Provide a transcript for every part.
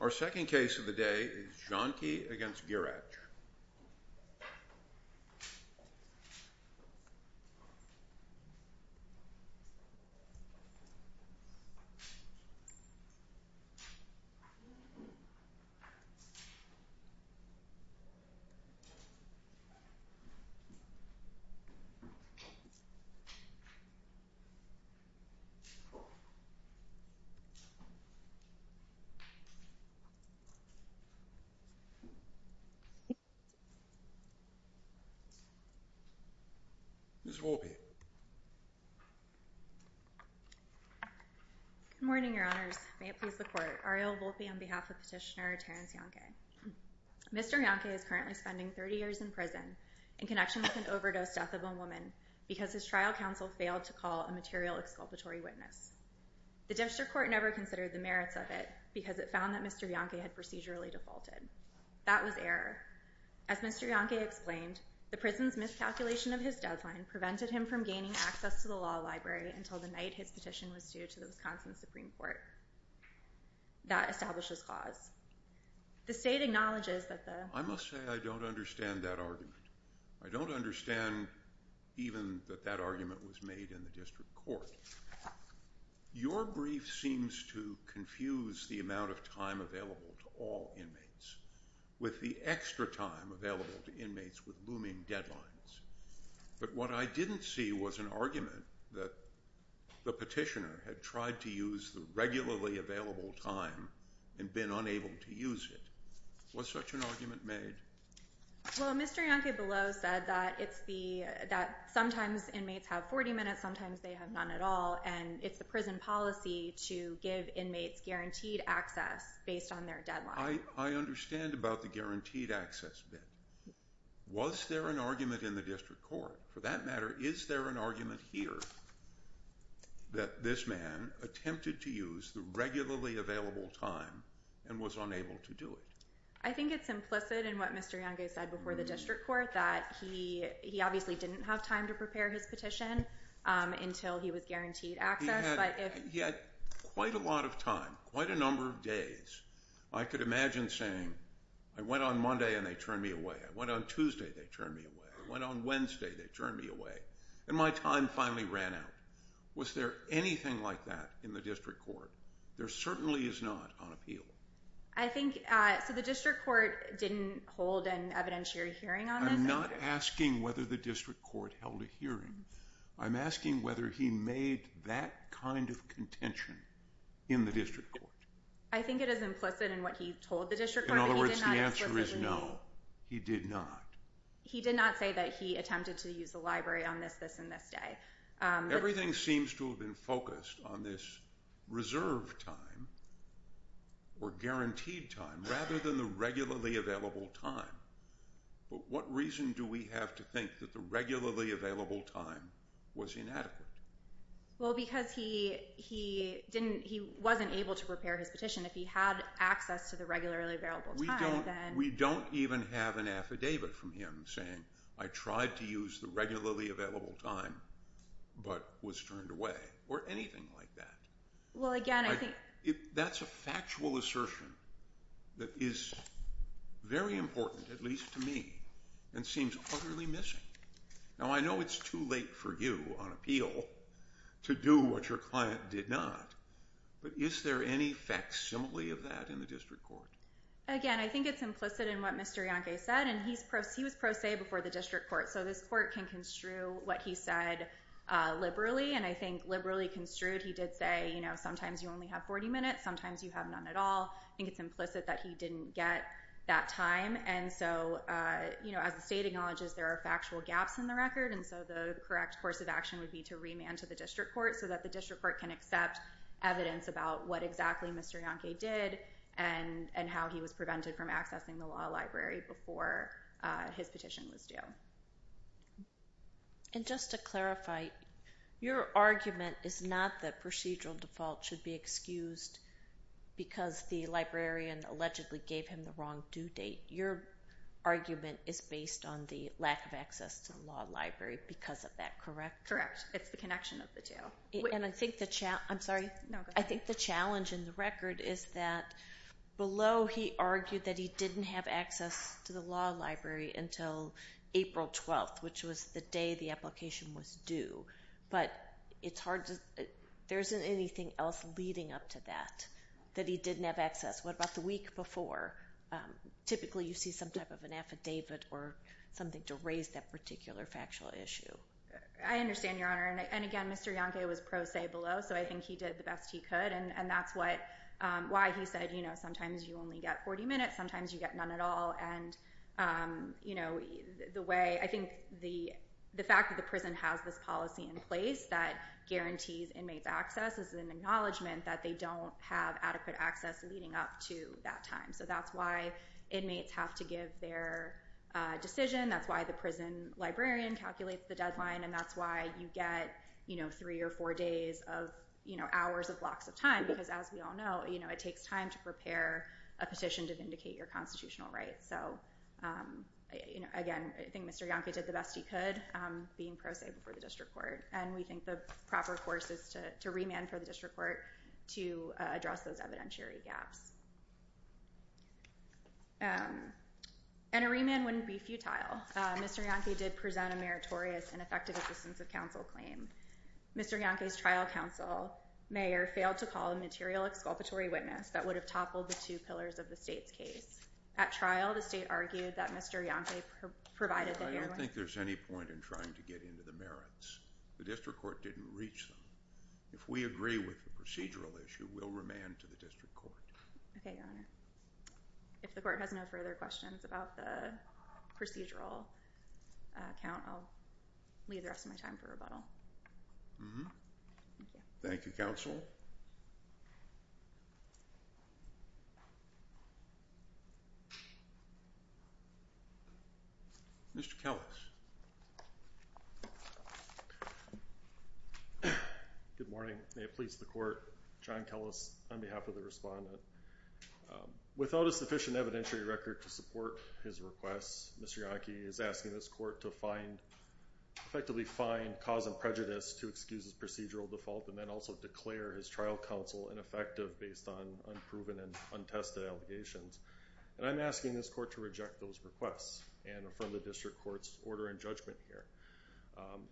Our second case of the day is Jannke v. Gierach. Ms. Volpe Good morning, Your Honors. May it please the Court. Ariel Volpe on behalf of Petitioner Terence Jannke. Mr. Jannke is currently spending 30 years in prison in connection with an overdose death of a woman because his trial counsel failed to call a material exculpatory witness. The District Court never considered the merits of it because it found that Mr. Jannke had procedurally defaulted. That was error. As Mr. Jannke explained, the prison's miscalculation of his deadline prevented him from gaining access to the law library until the night his petition was due to the Wisconsin Supreme Court. That establishes clause. The State acknowledges that the- I must say I don't understand that argument. I don't understand even that that argument was made in the District Court. Your brief seems to confuse the amount of time available to all inmates with the extra time available to inmates with looming deadlines. But what I didn't see was an argument that the petitioner had tried to use the regularly available time and been unable to use it. Was such an argument made? Well, Mr. Jannke below said that sometimes inmates have 40 minutes, sometimes they have none at all, and it's the prison policy to give inmates guaranteed access based on their deadline. I understand about the guaranteed access bit. Was there an argument in the District Court? For that matter, is there an argument here that this man attempted to use the regularly available time and was unable to do it? I think it's implicit in what Mr. Jannke said before the District Court that he obviously didn't have time to prepare his petition until he was guaranteed access. He had quite a lot of time, quite a number of days. I could imagine saying, I went on Monday and they turned me away. I went on Tuesday, they turned me away. I went on Wednesday, they turned me away. And my time finally ran out. Was there anything like that in the District Court? There certainly is not on appeal. So the District Court didn't hold an evidentiary hearing on this? I'm not asking whether the District Court held a hearing. I'm asking whether he made that kind of contention in the District Court. I think it is implicit in what he told the District Court. In other words, the answer is no, he did not. He did not say that he attempted to use the library on this, this, and this day. Everything seems to have been focused on this reserved time or guaranteed time rather than the regularly available time. But what reason do we have to think that the regularly available time was inadequate? Well, because he didn't, he wasn't able to prepare his petition. If he had access to the regularly available time then We don't even have an affidavit from him saying, I tried to use the regularly available time but was turned away, or anything like that. That's a factual assertion that is very important, at least to me, and seems utterly missing. Now I know it's too late for you on appeal to do what your client did not, but is there any facsimile of that in the District Court? Again, I think it's implicit in what Mr. Yonke said, and he was pro se before the District Court. So this court can construe what he said liberally, and I think liberally construed he did say, sometimes you only have 40 minutes, sometimes you have none at all. I think it's implicit that he didn't get that time. And so, as the state acknowledges, there are factual gaps in the record, and so the correct course of action would be to remand to the District Court so that the District Court can accept evidence about what exactly Mr. Yonke did and how he was prevented from accessing the law library before his petition was due. And just to clarify, your argument is not that procedural default should be excused because the librarian allegedly gave him the wrong due date. Your argument is based on the lack of access to the law library because of that, correct? Correct. It's the connection of the two. And I think the challenge in the record is that below he argued that he didn't have access to the law library until April 12th, which was the day the application was due. But there isn't anything else leading up to that, that he didn't have access. What about the week before? Typically you see some type of an affidavit or something to raise that particular factual issue. I understand, Your Honor. And again, Mr. Yonke was pro se below, so I think he did the best he could. And that's why he said sometimes you only get 40 minutes, sometimes you get none at all. And I think the fact that the prison has this policy in place that guarantees inmates access is an acknowledgement that they don't have adequate access leading up to that time. So that's why inmates have to give their decision. That's why the prison librarian calculates the deadline. And that's why you get three or four days of hours of blocks of time. Because as we all know, it takes time to prepare a petition to vindicate your constitutional rights. So again, I think Mr. Yonke did the best he could, being pro se before the district court. And we think the proper course is to remand for the district court to address those evidentiary gaps. And a remand wouldn't be futile. Mr. Yonke did present a meritorious and effective assistance of counsel claim. Mr. Yonke's trial counsel, Mayer, failed to call a material exculpatory witness that would have toppled the two pillars of the state's case. At trial, the state argued that Mr. Yonke provided that there was I don't think there's any point in trying to get into the merits. The district court didn't reach them. If we agree with the procedural issue, we'll remand to the district court. Okay, Your Honor. If the court has no further questions about the procedural account, I'll leave the rest of my time for rebuttal. Mm-hmm. Thank you. Thank you, counsel. Mr. Kellis. Good morning. May it please the court. John Kellis on behalf of the respondent. Without a sufficient evidentiary record to support his request, Mr. Yonke is asking this court to effectively find cause and prejudice to excuse his procedural default and then also declare his trial counsel ineffective based on unproven and untested allegations. And I'm asking this court to reject those requests and affirm the district court's order and judgment here,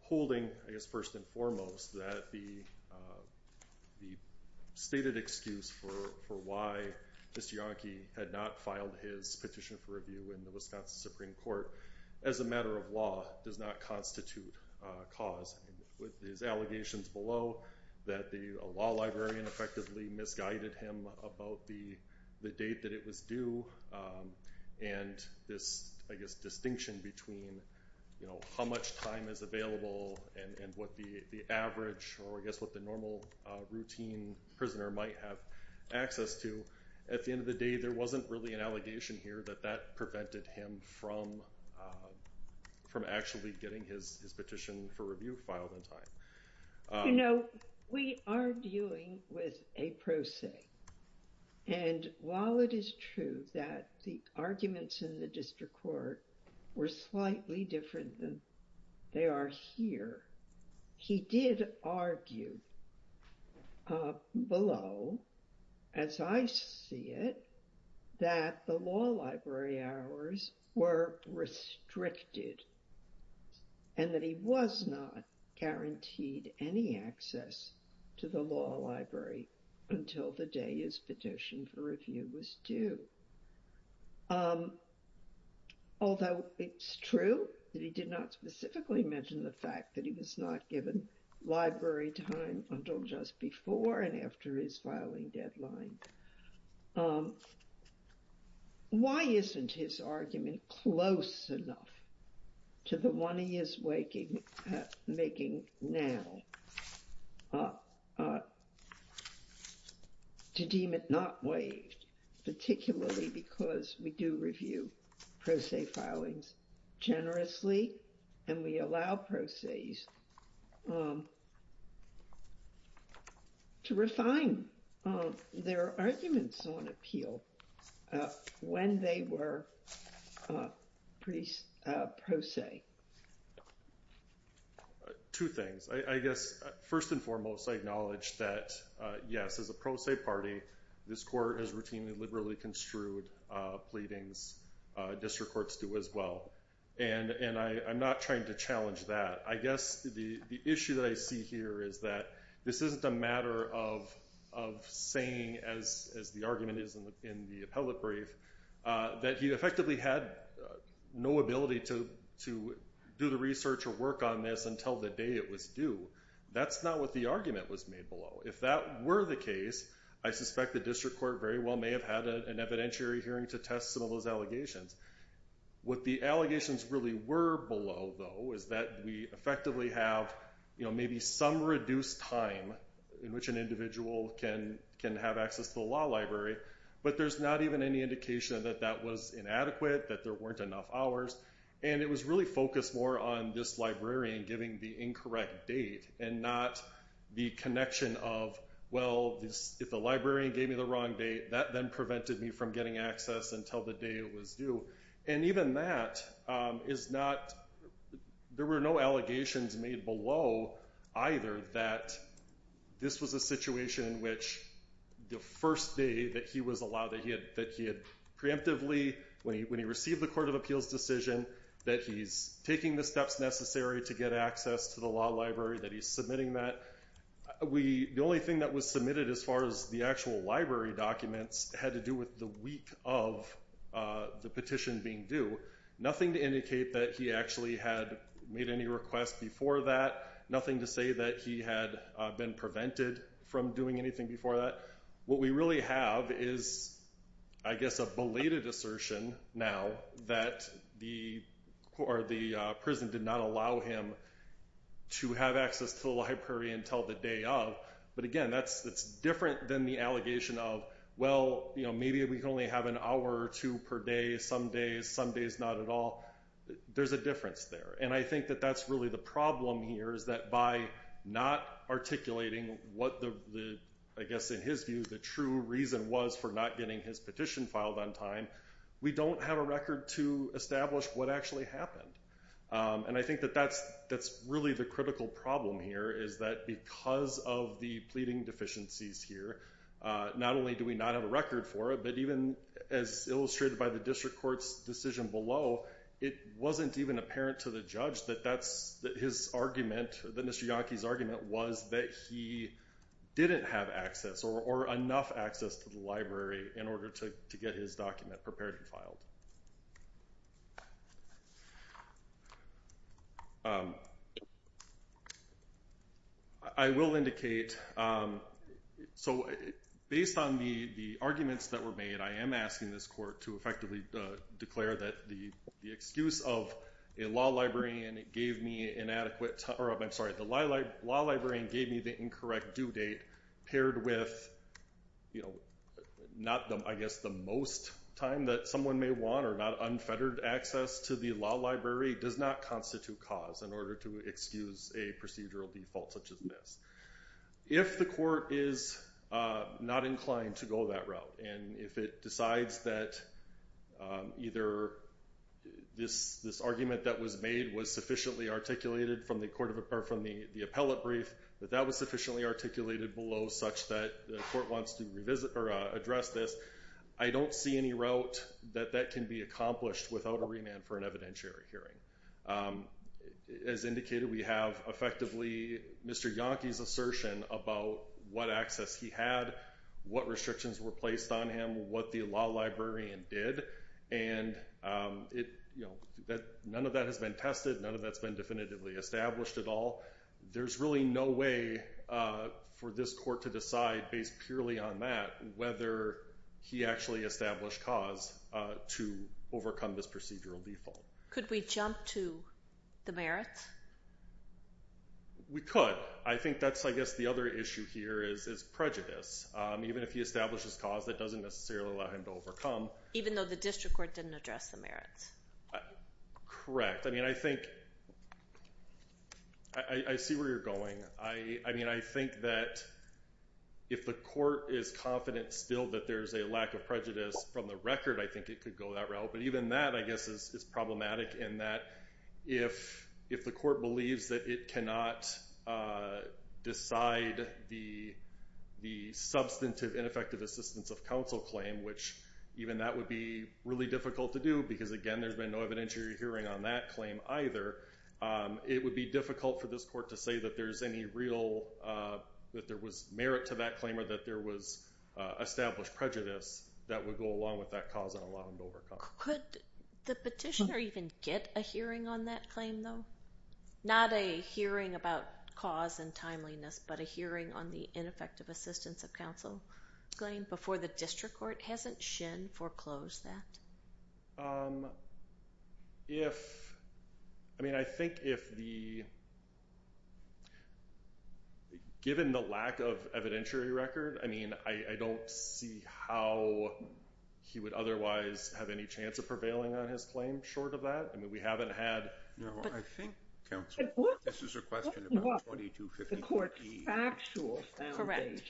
holding, I guess, first and foremost, that the stated excuse for why Mr. Yonke had not filed his petition for review in the Wisconsin Supreme Court as a matter of law does not constitute cause. With his allegations below that the law librarian effectively misguided him about the date that it was due and this, I guess, distinction between, you know, how much time is available and what the average or, I guess, what the normal routine prisoner might have access to, at the end of the day there wasn't really an allegation here that that prevented him from actually getting his petition for review filed in time. You know, we are dealing with a pro se. And while it is true that the arguments in the district court were slightly different than they are here, he did argue below, as I see it, that the law library hours were restricted and that he was not guaranteed any access to the law library until the day his petition for review was due. Although it's true that he did not specifically mention the fact that he was not given library time until just before and after his filing deadline. Why isn't his argument close enough to the one he is making now to deem it not waived, particularly because we do review pro se filings generously and we allow pro ses to refine their arguments on appeal when they were pro se. Two things. I guess, first and foremost, I acknowledge that, yes, as a pro se party, this court has routinely liberally construed pleadings, district courts do as well. And I'm not trying to challenge that. I guess the issue that I see here is that this isn't a matter of saying, as the argument is in the appellate brief, that he effectively had no ability to do the research or work on this until the day it was due. That's not what the argument was made below. If that were the case, I suspect the district court very well may have had an evidentiary hearing to test some of those allegations. What the allegations really were below, though, is that we effectively have maybe some reduced time in which an individual can have access to the law library, but there's not even any indication that that was inadequate, that there weren't enough hours. And it was really focused more on this librarian giving the incorrect date and not the connection of, well, if the librarian gave me the wrong date, that then prevented me from getting access until the day it was due. And even that is not, there were no allegations made below either that this was a situation in which the first day that he was allowed, that he had preemptively, when he received the court of appeals decision, that he's taking the steps necessary to get access to the law library, that he's submitting that. The only thing that was submitted as far as the actual library documents had to do with the week of the petition being due. Nothing to indicate that he actually had made any requests before that. Nothing to say that he had been prevented from doing anything before that. What we really have is, I guess, a belated assertion now that the prison did not allow him to have access to the library until the day of. But again, that's different than the allegation of, well, maybe we can only have an hour or two per day, some days, some days not at all. There's a difference there. And I think that that's really the problem here is that by not articulating what the, I guess in his view, the true reason was for not getting his petition filed on time, we don't have a record to establish what actually happened. And I think that that's really the critical problem here, is that because of the pleading deficiencies here, not only do we not have a record for it, but even as illustrated by the district court's decision below, it wasn't even apparent to the judge that that's his argument, that Mr. Yockey's argument was that he didn't have access or enough access to the library in order to get his document prepared and filed. I will indicate, so based on the arguments that were made, I am asking this court to effectively declare that the excuse of a law librarian gave me inadequate, or I'm sorry, the law librarian gave me the incorrect due date paired with, you know, I guess the most time that someone may want or not unfettered access to the law library does not constitute cause in order to excuse a procedural default such as this. If the court is not inclined to go that route and if it decides that either this argument that was made was sufficiently articulated from the appellate brief, that that was sufficiently articulated below such that the court wants to address this, I don't see any route that that can be accomplished without a remand for an evidentiary hearing. As indicated, we have effectively Mr. Yockey's assertion about what access he had, what restrictions were placed on him, what the law librarian did, and none of that has been tested, none of that's been definitively established at all. There's really no way for this court to decide based purely on that whether he actually established cause to overcome this procedural default. Could we jump to the merits? We could. I think that's, I guess, the other issue here is prejudice. Even if he establishes cause, that doesn't necessarily allow him to overcome. Even though the district court didn't address the merits? Correct. I mean, I think, I see where you're going. I mean, I think that if the court is confident still that there's a lack of prejudice from the record, I think it could go that route. But even that, I guess, is problematic in that if the court believes that it cannot decide the substantive ineffective assistance of counsel claim, which even that would be really difficult to do because, again, there's been no evidentiary hearing on that claim either, it would be difficult for this court to say that there's any real, that there was merit to that claim or that there was established prejudice that would go along with that cause and allow him to overcome. Could the petitioner even get a hearing on that claim, though? Not a hearing about cause and timeliness, but a hearing on the ineffective assistance of counsel claim before the district court? Hasn't Shin foreclosed that? If, I mean, I think if the, given the lack of evidentiary record, I mean, I don't see how he would otherwise have any chance of prevailing on his claim short of that. I mean, we haven't had. No, I think, counsel, this is a question about 2254E. The court's factual foundation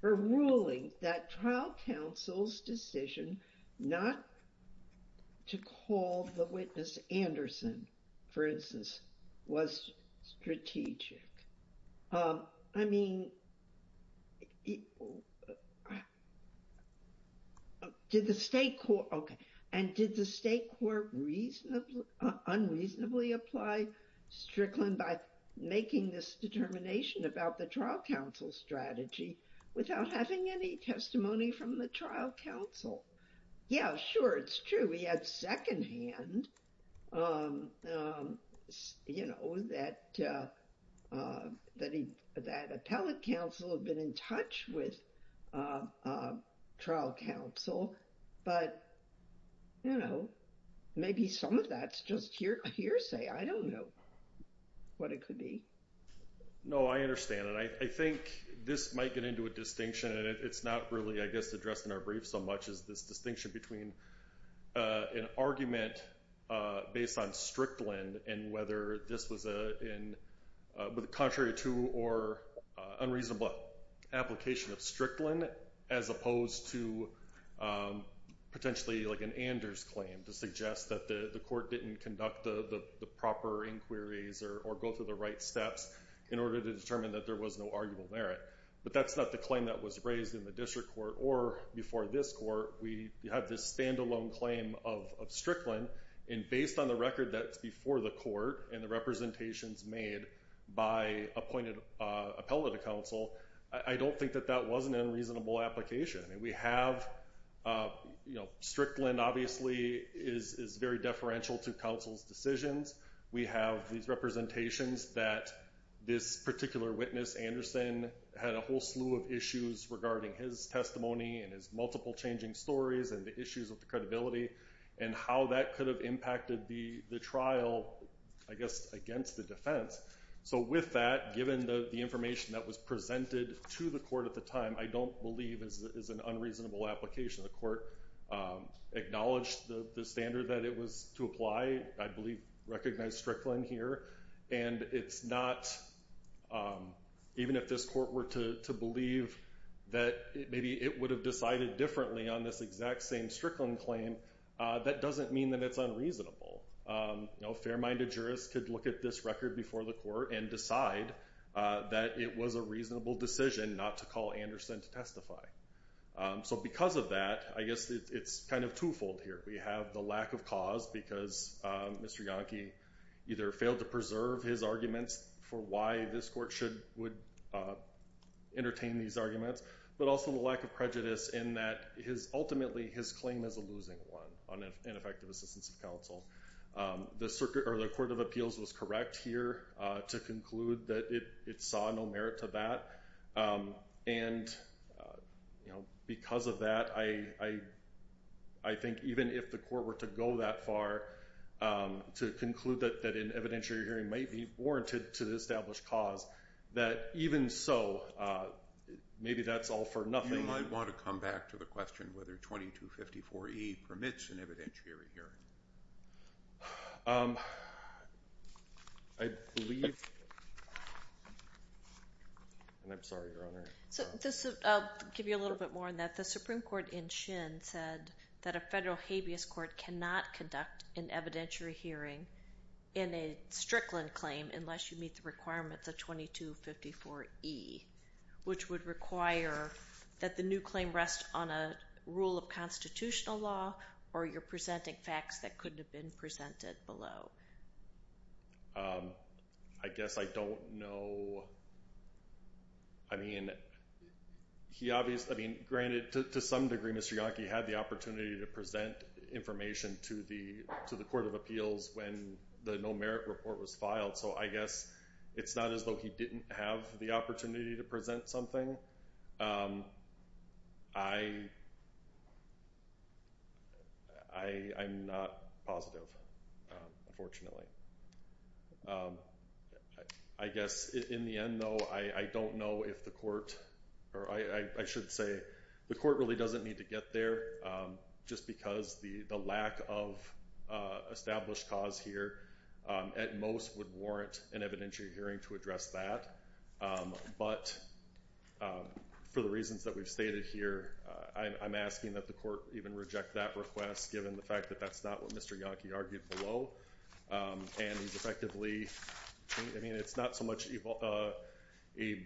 for ruling that trial counsel's decision not to call the witness Anderson, for instance, was strategic. I mean, did the state court, okay. Unreasonably apply Strickland by making this determination about the trial counsel strategy without having any testimony from the trial counsel? Yeah, sure, it's true. We had secondhand, you know, that appellate counsel had been in touch with trial counsel. But, you know, maybe some of that's just hearsay. I don't know what it could be. No, I understand. And I think this might get into a distinction, and it's not really, I guess, addressed in our brief so much as this distinction between an argument based on Strickland and whether this was contrary to or unreasonable application of Strickland as opposed to potentially like an Anders claim to suggest that the court didn't conduct the proper inquiries or go through the right steps in order to determine that there was no arguable merit. But that's not the claim that was raised in the district court or before this court. We had this standalone claim of Strickland, and based on the record that's before the court and the representations made by appointed appellate counsel, I don't think that that was an unreasonable application. And we have, you know, Strickland obviously is very deferential to counsel's decisions. We have these representations that this particular witness, Anderson, had a whole slew of issues regarding his testimony and his multiple changing stories and the issues of the credibility and how that could have impacted the trial, I guess, against the defense. So with that, given the information that was presented to the court at the time, I don't believe is an unreasonable application. The court acknowledged the standard that it was to apply, I believe recognized Strickland here. And it's not, even if this court were to believe that maybe it would have decided differently on this exact same Strickland claim, that doesn't mean that it's unreasonable. No fair-minded jurist could look at this record before the court and decide that it was a reasonable decision not to call Anderson to testify. So because of that, I guess it's kind of twofold here. We have the lack of cause because Mr. Yonke either failed to preserve his arguments for why this court would entertain these arguments, but also the lack of prejudice in that ultimately his claim is a losing one on ineffective assistance of counsel. The Court of Appeals was correct here to conclude that it saw no merit to that. And because of that, I think even if the court were to go that far to conclude that an evidentiary hearing may be warranted to the established cause, that even so, maybe that's all for nothing. You might want to come back to the question whether 2254E permits an evidentiary hearing. I believe, and I'm sorry, Your Honor. I'll give you a little bit more on that. The Supreme Court in Shin said that a federal habeas court cannot conduct an evidentiary hearing in a Strickland claim unless you meet the requirements of 2254E, which would require that the new claim rest on a rule of constitutional law or you're presenting facts that couldn't have been presented below. I guess I don't know. I mean, granted, to some degree, Mr. Yonke had the opportunity to present information to the Court of Appeals when the no merit report was filed, so I guess it's not as though he didn't have the opportunity to present something. I'm not positive, unfortunately. I guess in the end, though, I don't know if the court or I should say the court really doesn't need to get there just because the lack of established cause here at most would warrant an evidentiary hearing to address that. But for the reasons that we've stated here, I'm asking that the court even reject that request given the fact that that's not what Mr. Yonke argued below. And he's effectively, I mean, it's not so much a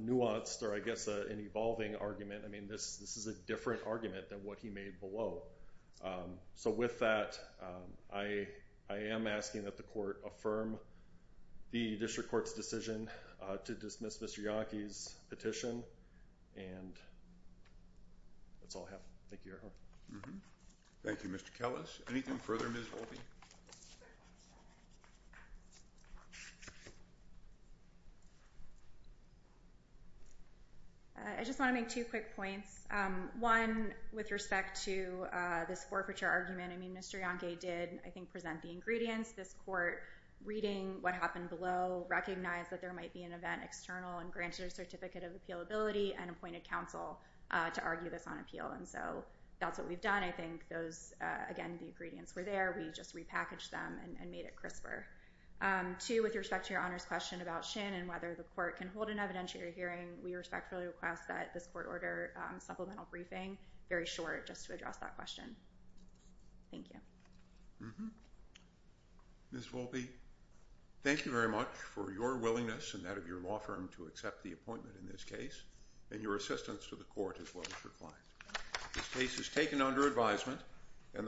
nuanced or I guess an evolving argument. I mean, this is a different argument than what he made below. So with that, I am asking that the court affirm the district court's decision to dismiss Mr. Yonke's petition. And that's all I have. Thank you, Your Honor. Thank you, Mr. Kellis. Anything further, Ms. Volpe? I just want to make two quick points. One, with respect to this forfeiture argument, I mean, Mr. Yonke did, I think, present the ingredients. This court, reading what happened below, recognized that there might be an event external and granted a certificate of appealability and appointed counsel to argue this on appeal. And so that's what we've done. I think those, again, the ingredients were there. We just repackaged them and made it crisper. Two, with respect to Your Honor's question about Shannon, whether the court can hold an evidentiary hearing, we respectfully request that this court order supplemental briefing very short just to address that question. Thank you. Ms. Volpe, thank you very much for your willingness and that of your law firm to accept the appointment in this case and your assistance to the court as well as your clients. This case is taken under advisement.